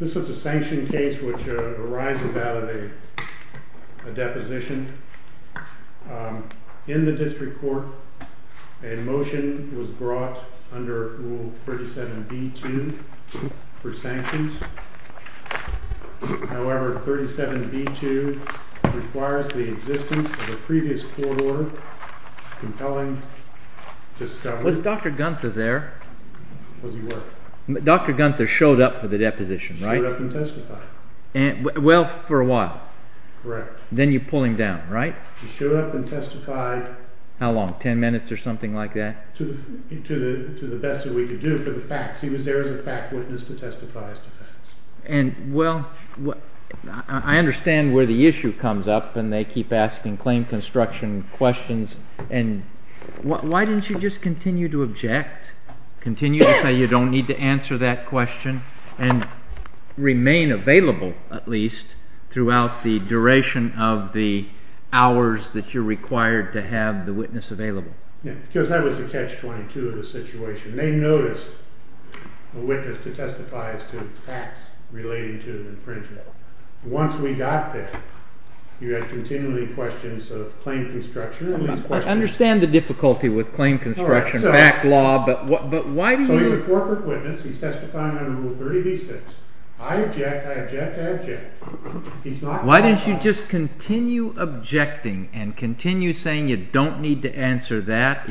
This is a sanctioned case which arises out of a deposition in the district court and the motion was brought under rule 37b-2 for sanctions. However, 37b-2 requires the existence of a previous court order compelling discoveries. Was Dr. Gunther there? Was he where? Dr. Gunther showed up for the deposition, right? Showed up and testified. Well, for a while. Then you pull him down, right? He showed up and testified. How long? Ten minutes or something like that? To the best that we could do for the facts. He was there as a fact witness to testify as to facts. And, well, I understand where the issue comes up and they keep asking claim construction questions and why didn't you just continue to object, continue to say you don't need to answer that question, and remain available, at least, throughout the duration of the hours that you're required to have the witness available. Because that was a catch-22 of the situation. They noticed a witness to testify as to facts relating to the infringement. Once we got there, you had continually questions of claim construction. I understand the difficulty with claim construction, back law, but why didn't you... He's a corporate witness. He's testifying under Rule 30b-6. I object, I object, I object. Why didn't you just continue objecting and continue saying you don't need to answer that?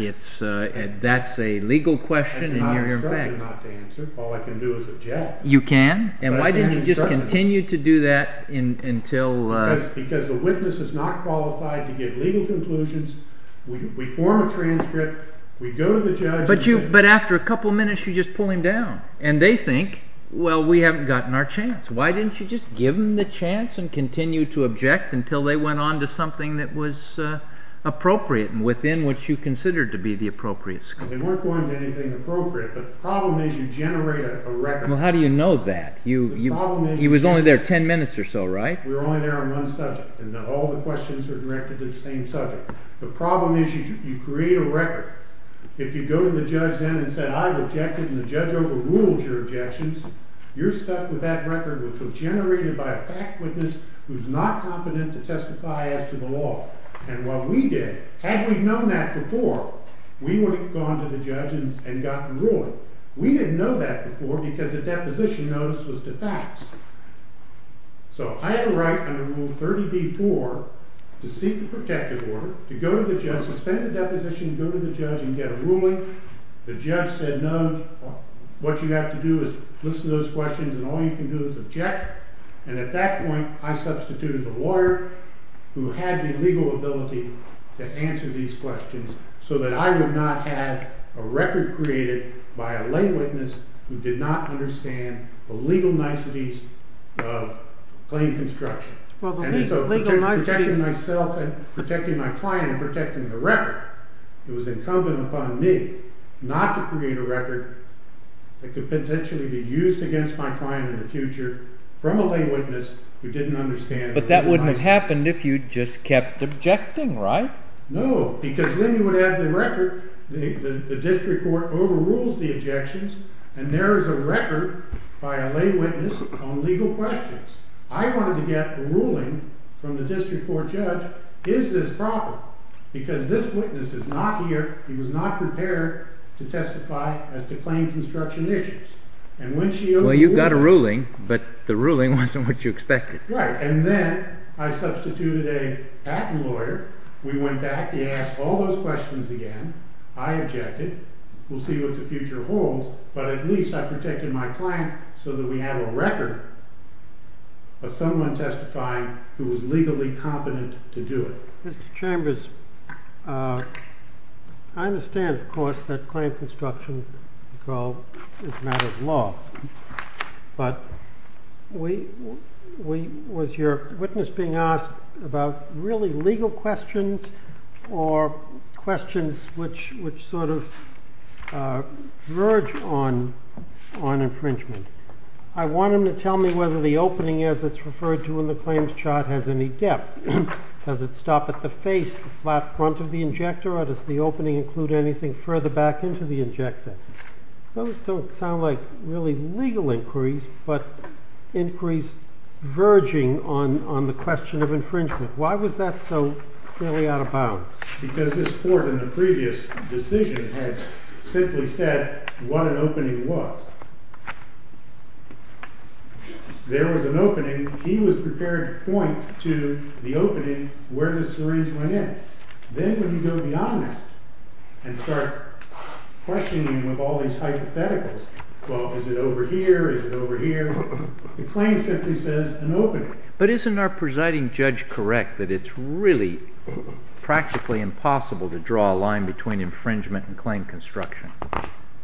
That's a legal question and you're... I'm instructed not to answer. All I can do is object. You can? And why didn't you just continue to do that until... Because the witness is not qualified to give legal conclusions. We form a transcript. We go to the judge... But after a couple of minutes, you just pull him down. And they think, well, we haven't gotten our chance. Why didn't you just give them the chance and continue to object until they went on to something that was appropriate and within what you considered to be the appropriate scope? They weren't going to anything appropriate, but the problem is you generate a record. Well, how do you know that? He was only there ten minutes or so, right? We were only there on one subject, and all the questions were directed to the same subject. The problem is you create a record. If you go to the judge then and say, I objected and the judge overruled your objections, you're stuck with that record which was generated by a fact witness who's not competent to testify as to the law. And what we did, had we known that before, we would have gone to the judge and gotten ruling. We didn't know that before because the deposition notice was to facts. So I had a right under Rule 30b-4 to seek a protective order, to go to the judge, suspend the deposition, go to the judge and get a ruling. The judge said, no, what you have to do is listen to those questions and all you can do is object. And at that point, I substituted a lawyer who had the legal ability to answer these questions so that I would not have a record created by a lay witness who did not understand the legal niceties of claim construction. And so protecting myself and protecting my client and protecting the record, it was incumbent upon me not to create a record that could potentially be used against my client in the future from a lay witness who didn't understand the legal niceties. But that wouldn't have happened if you'd just kept objecting, right? No, because then you would have the record, the district court overrules the objections and there is a record by a lay witness on legal questions. I wanted to get a ruling from the district court judge, is this proper? Because this witness is not here, he was not prepared to testify as to claim construction issues. Well, you got a ruling, but the ruling wasn't what you expected. Right, and then I substituted a patent lawyer. We went back, he asked all those questions again, I objected, we'll see what the future holds, but at least I protected my client so that we have a record of someone testifying who was legally competent to do it. Mr. Chambers, I understand, of course, that claim construction is a matter of law, but was your witness being asked about really legal questions or questions which sort of verge on infringement? I want him to tell me whether the opening, as it's referred to in the claims chart, has any depth. Does it stop at the face, the flat front of the injector, or does the opening include anything further back into the injector? Those don't sound like really legal inquiries, but inquiries verging on the question of infringement. Why was that so clearly out of bounds? Because this court in the previous decision had simply said what an opening was. There was an opening, he was prepared to point to the opening where the syringe went in. Then when you go beyond that and start questioning with all these hypotheticals, well, is it over here, is it over here, the claim simply says an opening. But isn't our presiding judge correct that it's really practically impossible to draw a line between infringement and claim construction?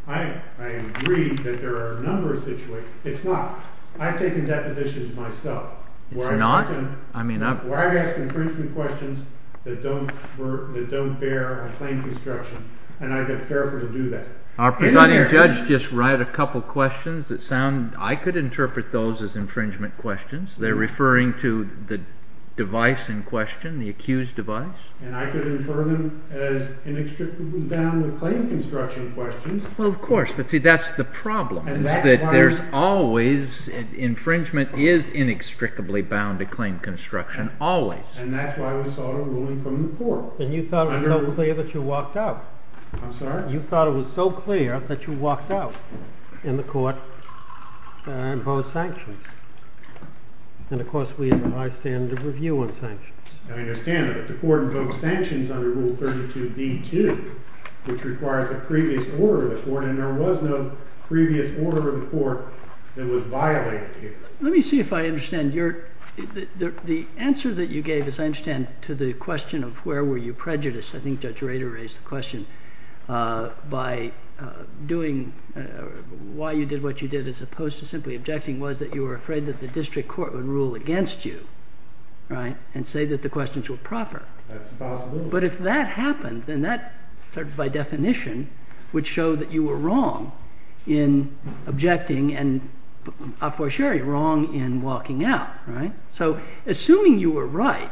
I agree that there are a number of situations. It's not. I've taken depositions myself where I've asked infringement questions that don't bear a claim construction, and I've been careful to do that. Our presiding judge just read a couple of questions that sound, I could interpret those as infringement questions. They're referring to the device in question, the accused device. And I could infer them as inextricably bound with claim construction questions. Well, of course, but see that's the problem is that there's always, infringement is inextricably bound to claim construction, always. And that's why we sought a ruling from the court. And you thought it was so clear that you walked out. I'm sorry? You thought it was so clear that you walked out, and the court imposed sanctions. And of course we have a high standard of review on sanctions. I understand, but the court imposed sanctions under Rule 32b-2, which requires a previous order of the court, and there was no previous order of the court that was violated here. Let me see if I understand. The answer that you gave, as I understand, to the question of where were you prejudiced, I think Judge Rader raised the question, by doing why you did what you did as opposed to simply objecting, was that you were afraid that the district court would rule against you, right, and say that the questions were proper. That's a possibility. But if that happened, then that, by definition, would show that you were wrong in objecting, and a fortiori, wrong in walking out, right? So assuming you were right,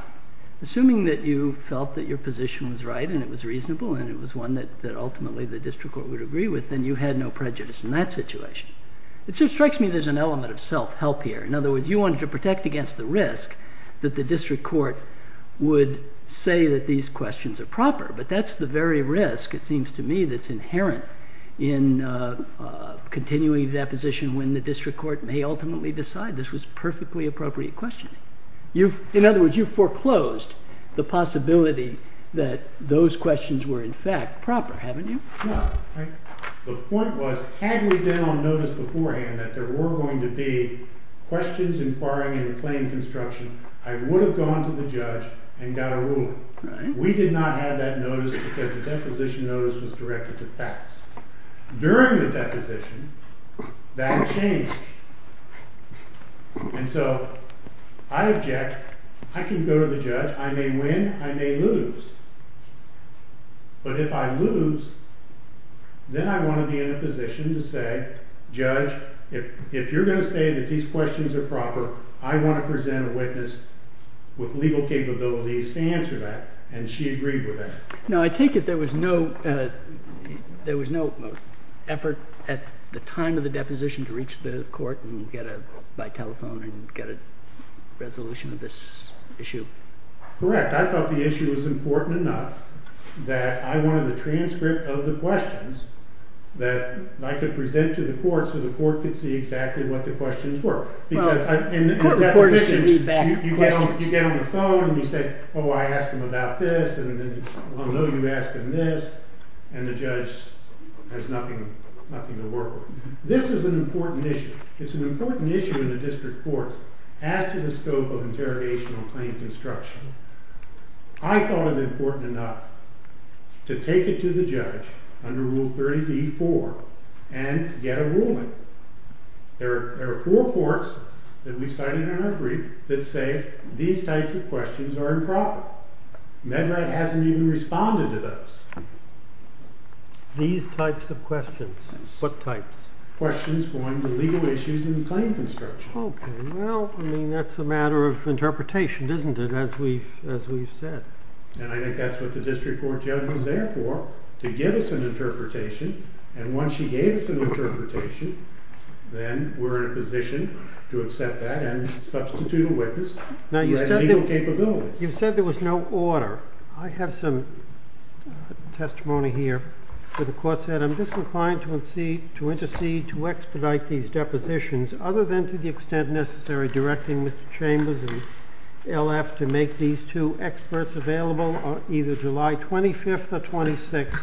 assuming that you felt that your position was right, and it was reasonable, and it was one that ultimately the district court would agree with, then you had no prejudice in that situation. It strikes me there's an element of self-help here. In other words, you wanted to protect against the risk that the district court would say that these questions are proper, but that's the very risk, it seems to me, that's inherent in continuing that position when the district court may ultimately decide this was perfectly appropriate questioning. In other words, you foreclosed the possibility that those questions were, in fact, proper, haven't you? No. The point was, had we been on notice beforehand that there were going to be questions inquiring into claim construction, I would have gone to the judge and got a ruling. We did not have that notice because the deposition notice was directed to facts. During the deposition, that changed. And so I object. I can go to the judge. I may win. I may lose. But if I lose, then I want to be in a position to say, Judge, if you're going to say that these questions are proper, I want to present a witness with legal capabilities to answer that. And she agreed with that. Now, I take it there was no effort at the time of the deposition to reach the court by telephone and get a resolution of this issue? Correct. In fact, I thought the issue was important enough that I wanted a transcript of the questions that I could present to the court so the court could see exactly what the questions were. Because in the deposition, you get on the phone and you say, Oh, I asked him about this, and then, well, no, you asked him this. And the judge has nothing to work with. This is an important issue. It's an important issue in the district courts as to the scope of interrogation on claim construction. I thought it important enough to take it to the judge under Rule 30b-4 and get a ruling. There are four courts that we cited in our brief that say these types of questions are improper. MedRat hasn't even responded to those. These types of questions? Yes. What types? Questions going to legal issues in claim construction. Okay. Well, I mean, that's a matter of interpretation, isn't it, as we've said? And I think that's what the district court judge was there for, to give us an interpretation. And once she gave us an interpretation, then we're in a position to accept that and substitute a witness who had legal capabilities. Now, you said there was no order. I have some testimony here where the court said, I'm disinclined to intercede to expedite these depositions other than to the extent necessary, directing Mr. Chambers and LF to make these two experts available either July 25th or 26th.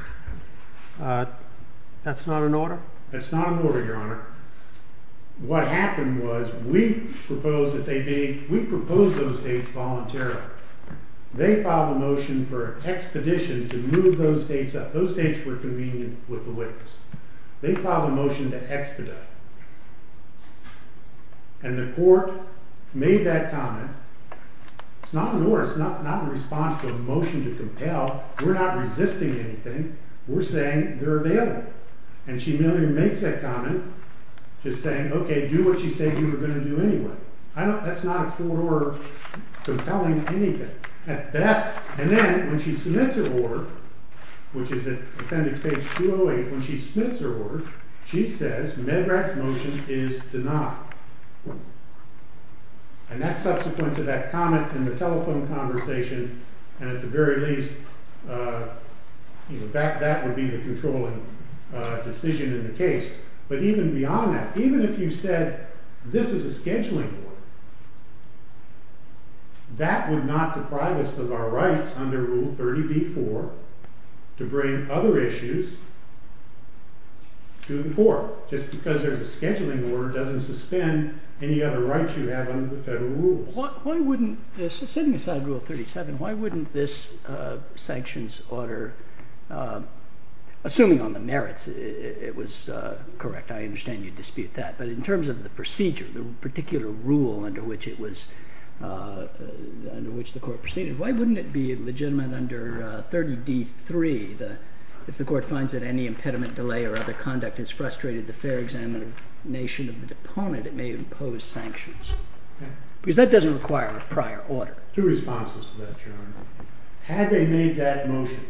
That's not an order? That's not an order, Your Honor. What happened was we proposed that they be—we proposed those dates voluntarily. They filed a motion for an expedition to move those dates up. Those dates were convenient with the witness. They filed a motion to expedite. And the court made that comment. It's not an order. It's not in response to a motion to compel. We're not resisting anything. We're saying they're available. And she merely makes that comment, just saying, okay, do what she said you were going to do anyway. That's not a court order compelling anything, at best. And then when she submits her order, which is at appendix page 208, when she submits her order, she says Medrad's motion is denied. And that's subsequent to that comment in the telephone conversation, and at the very least that would be the controlling decision in the case. But even beyond that, even if you said this is a scheduling order, that would not deprive us of our rights under Rule 30b-4 to bring other issues to the court. Just because there's a scheduling order doesn't suspend any other rights you have under the federal rules. Setting aside Rule 37, why wouldn't this sanctions order, assuming on the merits it was correct? I understand you dispute that. But in terms of the procedure, the particular rule under which the court proceeded, why wouldn't it be legitimate under 30d-3 if the court finds that any impediment, delay, or other conduct has frustrated the fair examination of the deponent, it may impose sanctions? Because that doesn't require a prior order. Two responses to that, Your Honor. Had they made that motion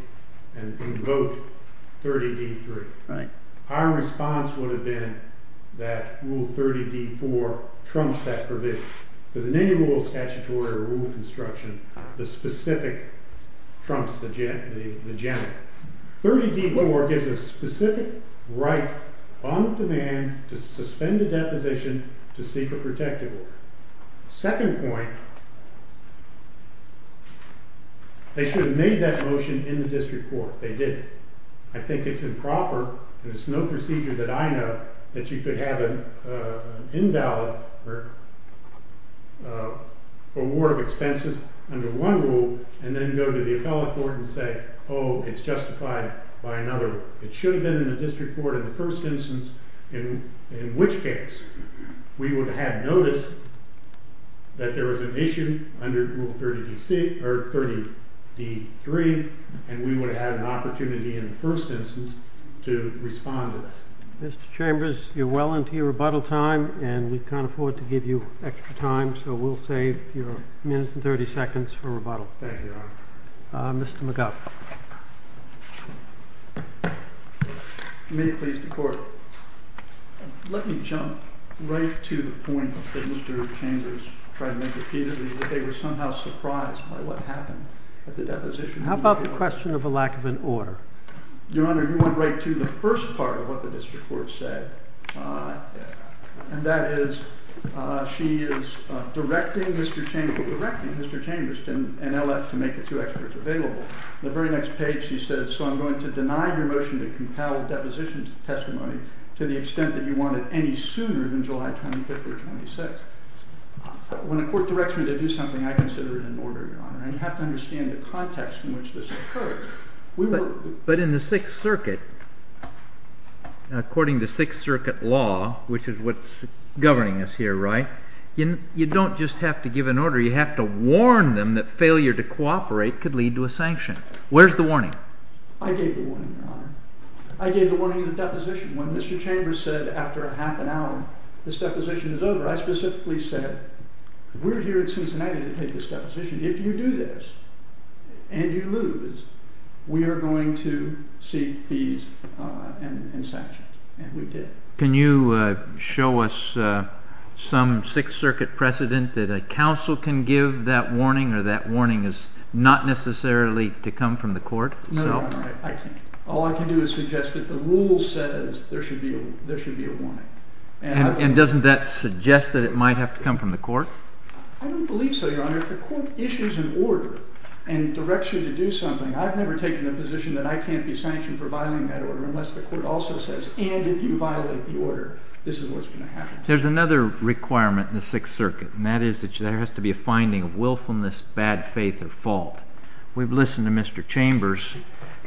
and invoked 30d-3, our response would have been that Rule 30d-4 trumps that provision. Because in any rule of statutory or rule of construction, the specific trumps the general. 30d-4 gives a specific right on demand to suspend a deposition to seek a protective order. Second point, they should have made that motion in the district court. They didn't. I think it's improper, and it's no procedure that I know, that you could have an invalid award of expenses under one rule and then go to the appellate court and say, oh, it's justified by another. It should have been in the district court in the first instance, in which case we would have noticed that there was an issue under Rule 30d-3, and we would have had an opportunity in the first instance to respond to that. Mr. Chambers, you're well into your rebuttal time, and we can't afford to give you extra time, so we'll save your minutes and 30 seconds for rebuttal. Thank you, Your Honor. Mr. McGuff. May it please the Court. Let me jump right to the point that Mr. Chambers tried to make repeatedly, that they were somehow surprised by what happened at the deposition. How about the question of a lack of an order? Your Honor, you went right to the first part of what the district court said, and that is, she is directing Mr. Chamberston and LF to make the two experts available. The very next page she says, so I'm going to deny your motion to compel a deposition testimony to the extent that you want it any sooner than July 25th or 26th. When a court directs me to do something, I consider it an order, Your Honor, and you have to understand the context in which this occurred. But in the Sixth Circuit, according to Sixth Circuit law, which is what's governing us here, right, you don't just have to give an order, you have to warn them that failure to cooperate could lead to a sanction. Where's the warning? I gave the warning, Your Honor. I gave the warning at the deposition. When Mr. Chambers said after a half an hour this deposition is over, I specifically said, we're here in Cincinnati to take this deposition. If you do this and you lose, we are going to seek fees and sanctions, and we did. Can you show us some Sixth Circuit precedent that a counsel can give that warning or that warning is not necessarily to come from the court? No, Your Honor, I can't. All I can do is suggest that the rule says there should be a warning. And doesn't that suggest that it might have to come from the court? I don't believe so, Your Honor. If the court issues an order and directs you to do something, I've never taken the position that I can't be sanctioned for violating that order unless the court also says, and if you violate the order, this is what's going to happen. There's another requirement in the Sixth Circuit, and that is that there has to be a finding of willfulness, bad faith, or fault. We've listened to Mr. Chambers.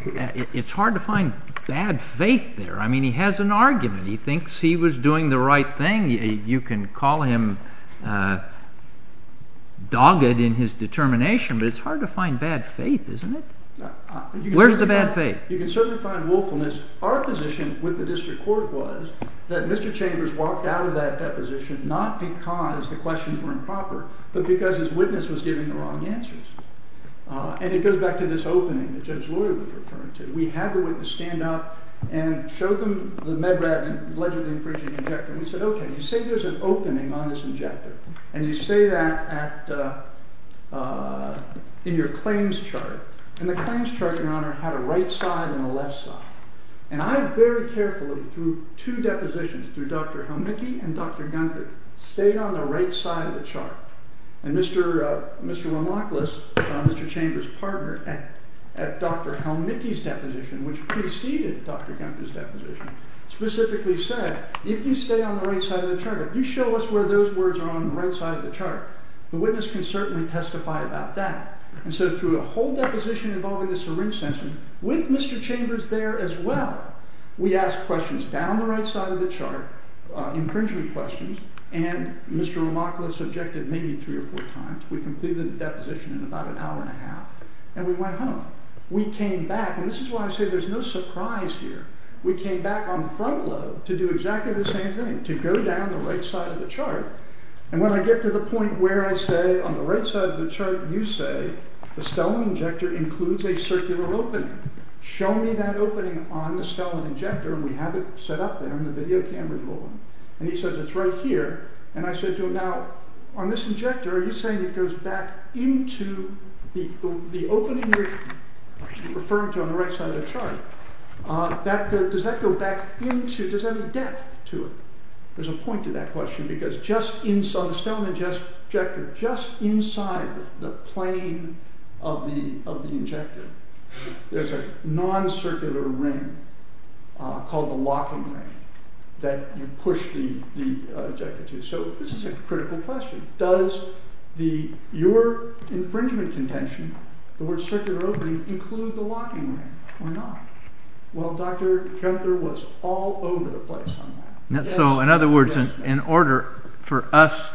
It's hard to find bad faith there. I mean, he has an argument. He thinks he was doing the right thing. You can call him dogged in his determination, but it's hard to find bad faith, isn't it? Where's the bad faith? You can certainly find willfulness. Our position with the district court was that Mr. Chambers walked out of that deposition not because the questions were improper, but because his witness was giving the wrong answers. And it goes back to this opening that Judge Lloyd was referring to. We had the witness stand up and show them the MedRat and allegedly infringing injector. And we said, okay, you say there's an opening on this injector, and you say that in your claims chart, and the claims chart, Your Honor, had a right side and a left side. And I very carefully, through two depositions, through Dr. Helmicky and Dr. Gunther, stayed on the right side of the chart. And Mr. Ramachlis, Mr. Chambers' partner, at Dr. Helmicky's deposition, which preceded Dr. Gunther's deposition, specifically said, if you stay on the right side of the chart, if you show us where those words are on the right side of the chart, the witness can certainly testify about that. And so through a whole deposition involving the syringe sensor, with Mr. Chambers there as well, we asked questions down the right side of the chart, infringing questions, and Mr. Ramachlis objected maybe three or four times. We completed the deposition in about an hour and a half, and we went home. We came back, and this is why I say there's no surprise here. We came back on front load to do exactly the same thing, to go down the right side of the chart. And when I get to the point where I say, on the right side of the chart, you say, the Stellum injector includes a circular opening. Show me that opening on the Stellum injector, and we have it set up there on the video camera. And he says, it's right here. And I said to him, now, on this injector, are you saying it goes back into the opening you're referring to on the right side of the chart? Does that go back into, does that have any depth to it? There's a point to that question, because just inside, on the Stellum injector, just inside the plane of the injector, there's a non-circular ring called the locking ring that you push the injector to. So this is a critical question. Does your infringement contention, the word circular opening, include the locking ring or not? Well, Dr. Kempner was all over the place on that. So, in other words, in order for us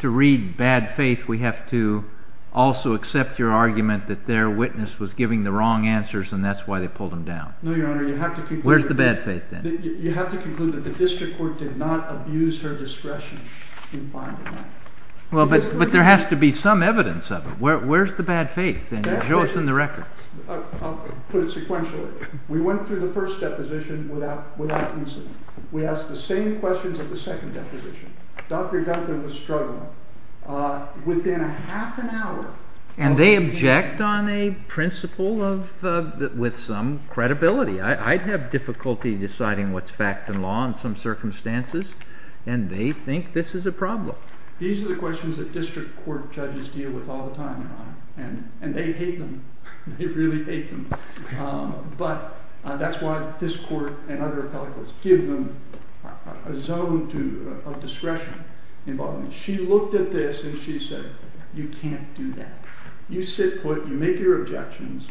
to read bad faith, we have to also accept your argument that their witness was giving the wrong answers, and that's why they pulled him down. No, Your Honor, you have to conclude that the district court did not abuse her discretion in finding that. But there has to be some evidence of it. Where's the bad faith? Show us in the records. I'll put it sequentially. We went through the first deposition without incident. We asked the same questions at the second deposition. Dr. Kempner was struggling. Within a half an hour... And they object on a principle with some credibility. I'd have difficulty deciding what's fact and law in some circumstances, and they think this is a problem. These are the questions that district court judges deal with all the time, Your Honor, and they hate them. They really hate them. But that's why this court and other appellate courts give them a zone of discretion. She looked at this and she said, you can't do that. You sit put, you make your objections,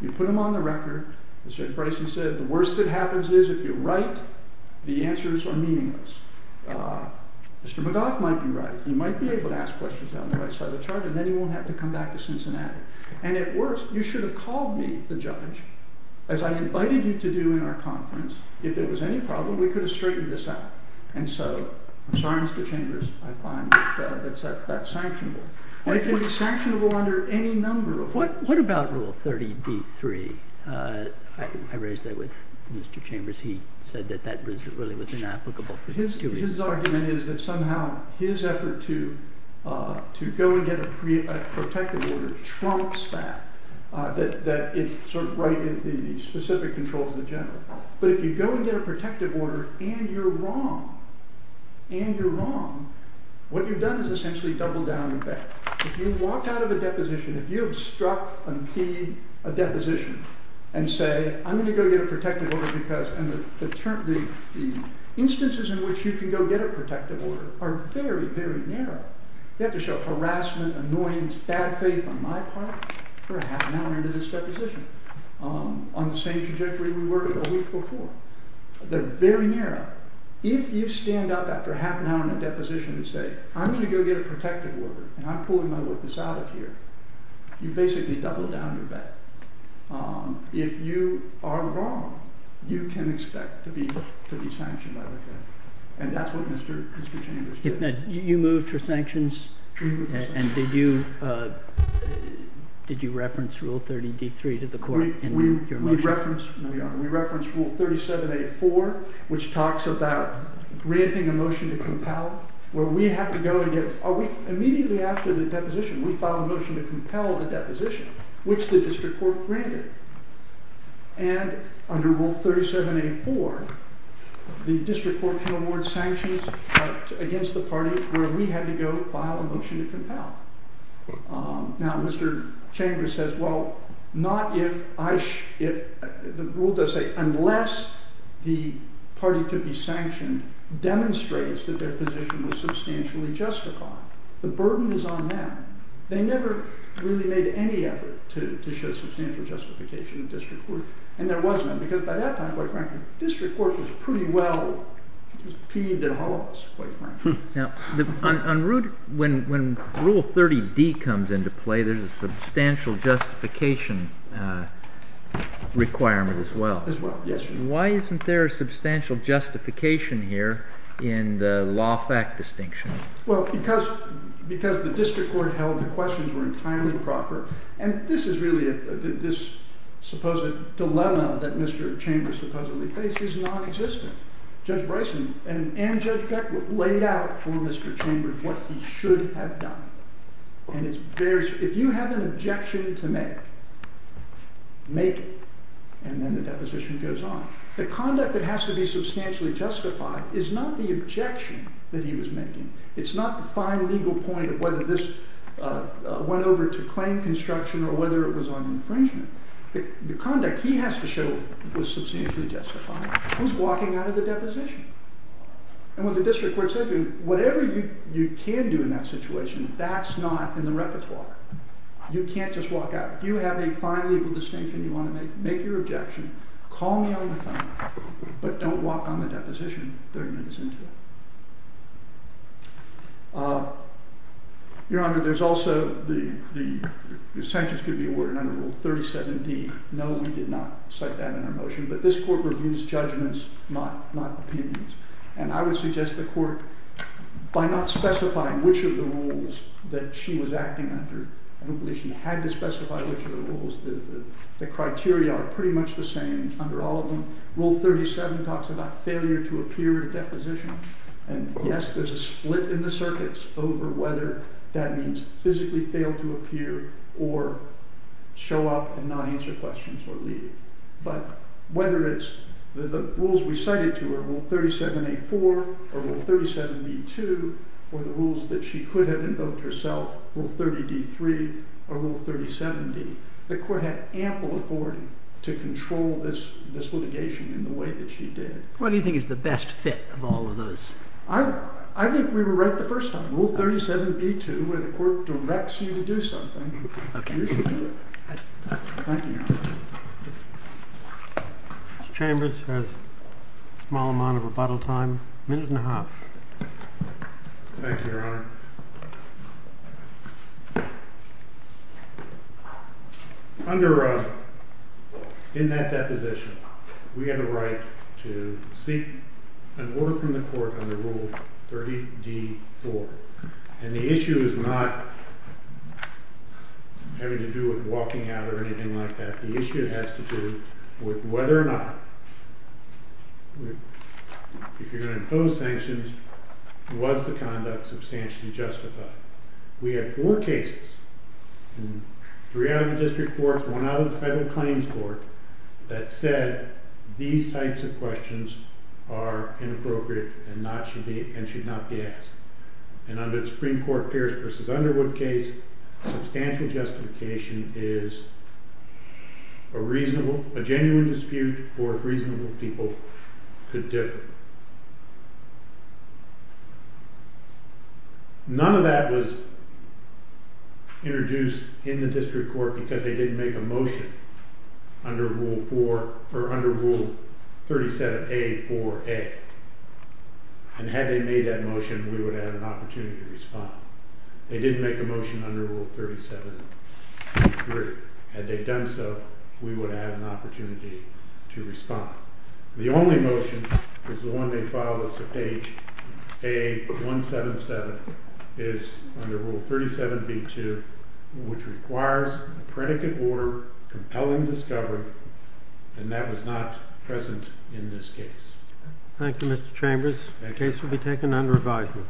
you put them on the record. As Judge Bricey said, the worst that happens is if you're right, the answers are meaningless. Mr. McGough might be right. He might be able to ask questions down the right side of the chart, and then he won't have to come back to Cincinnati. And at worst, you should have called me, the judge, as I invited you to do in our conference. If there was any problem, we could have straightened this out. And so, I'm sorry, Mr. Chambers, I find that that's sanctionable. And it would be sanctionable under any number of rules. What about Rule 30d-3? I raised that with Mr. Chambers. He said that that really was inapplicable for two reasons. His argument is that somehow his effort to go and get a protective order trumps that, that it sort of righted the specific controls of the general. But if you go and get a protective order and you're wrong, and you're wrong, what you've done is essentially doubled down the bet. If you walk out of a deposition, if you obstruct a deposition and say, I'm going to go get a protective order because the instances in which you can go get a protective order are very, very narrow. You have to show harassment, annoyance, bad faith on my part for a half an hour into this deposition on the same trajectory we were a week before. They're very narrow. If you stand up after a half an hour in a deposition and say, I'm going to go get a protective order, and I'm pulling my witness out of here, you've basically doubled down your bet. If you are wrong, you can expect to be sanctioned by the court. And that's what Mr. Chambers did. You moved for sanctions? We moved for sanctions. And did you reference Rule 30d-3 to the court in your motion? We referenced Rule 37a-4, which talks about granting a motion to compel, where we had to go and get, immediately after the deposition, we filed a motion to compel the deposition, which the district court granted. And under Rule 37a-4, the district court can award sanctions against the party where we had to go file a motion to compel. Now, Mr. Chambers says, well, not if I... The rule does say, unless the party to be sanctioned demonstrates that their position was substantially justified. The burden is on them. They never really made any effort to show substantial justification in the district court. And there was none. Because by that time, quite frankly, the district court was pretty well peeved at all of us. Now, when Rule 30d comes into play, there's a substantial justification requirement as well. As well, yes. Why isn't there a substantial justification here in the law fact distinction? Well, because the district court held the questions were entirely proper. And this is really... This supposed dilemma that Mr. Chambers supposedly faced is nonexistent. Judge Bryson and Judge Beck laid out for Mr. Chambers what he should have done. And it's very... If you have an objection to make, make it. And then the deposition goes on. The conduct that has to be substantially justified is not the objection that he was making. It's not the fine legal point of whether this went over to claim construction or whether it was on infringement. The conduct he has to show was substantially justified. Who's walking out of the deposition? And what the district court said to him, whatever you can do in that situation, that's not in the repertoire. You can't just walk out. If you have a fine legal distinction you want to make, make your objection. Call me on the phone. But don't walk on the deposition 30 minutes into it. Your Honor, there's also the... The sanctions could be awarded under Rule 37d. No, we did not cite that in our motion. But this court reviews judgments, not opinions. And I would suggest the court, by not specifying which of the rules that she was acting under... I don't believe she had to specify which of the rules. The criteria are pretty much the same under all of them. Rule 37 talks about failure to appear at a deposition. And yes, there's a split in the circuits over whether that means physically fail to appear or show up and not answer questions or leave. But whether it's the rules we cited to her, Rule 37a.4 or Rule 37b.2, or the rules that she could have invoked herself, Rule 30d.3 or Rule 37d, the court had ample authority to control this litigation in the way that she did. What do you think is the best fit of all of those? I think we were right the first time. Rule 37b.2, where the court directs you to do something, you should do it. Thank you, Your Honor. Mr. Chambers has a small amount of rebuttal time. A minute and a half. Thank you, Your Honor. Thank you, Your Honor. In that deposition, we have a right to seek an order from the court under Rule 30d.4. And the issue is not having to do with walking out or anything like that. The issue has to do with whether or not, if you're going to impose sanctions, was the conduct substantially justified? We had four cases, three out of the district courts, one out of the federal claims court, that said these types of questions are inappropriate and should not be asked. And under the Supreme Court Pierce v. Underwood case, substantial justification is a reasonable, a genuine dispute for if reasonable people could differ. None of that was introduced in the district court because they didn't make a motion under Rule 37a.4a. And had they made that motion, we would have had an opportunity to respond. They didn't make a motion under Rule 37.3. we would have had an opportunity to respond. The only motion is the one that follows page a.177 is under Rule 37b.2 which requires a predicate order, compelling discovery, and that was not present in this case. Thank you, Mr. Chambers. The case will be taken under advisement.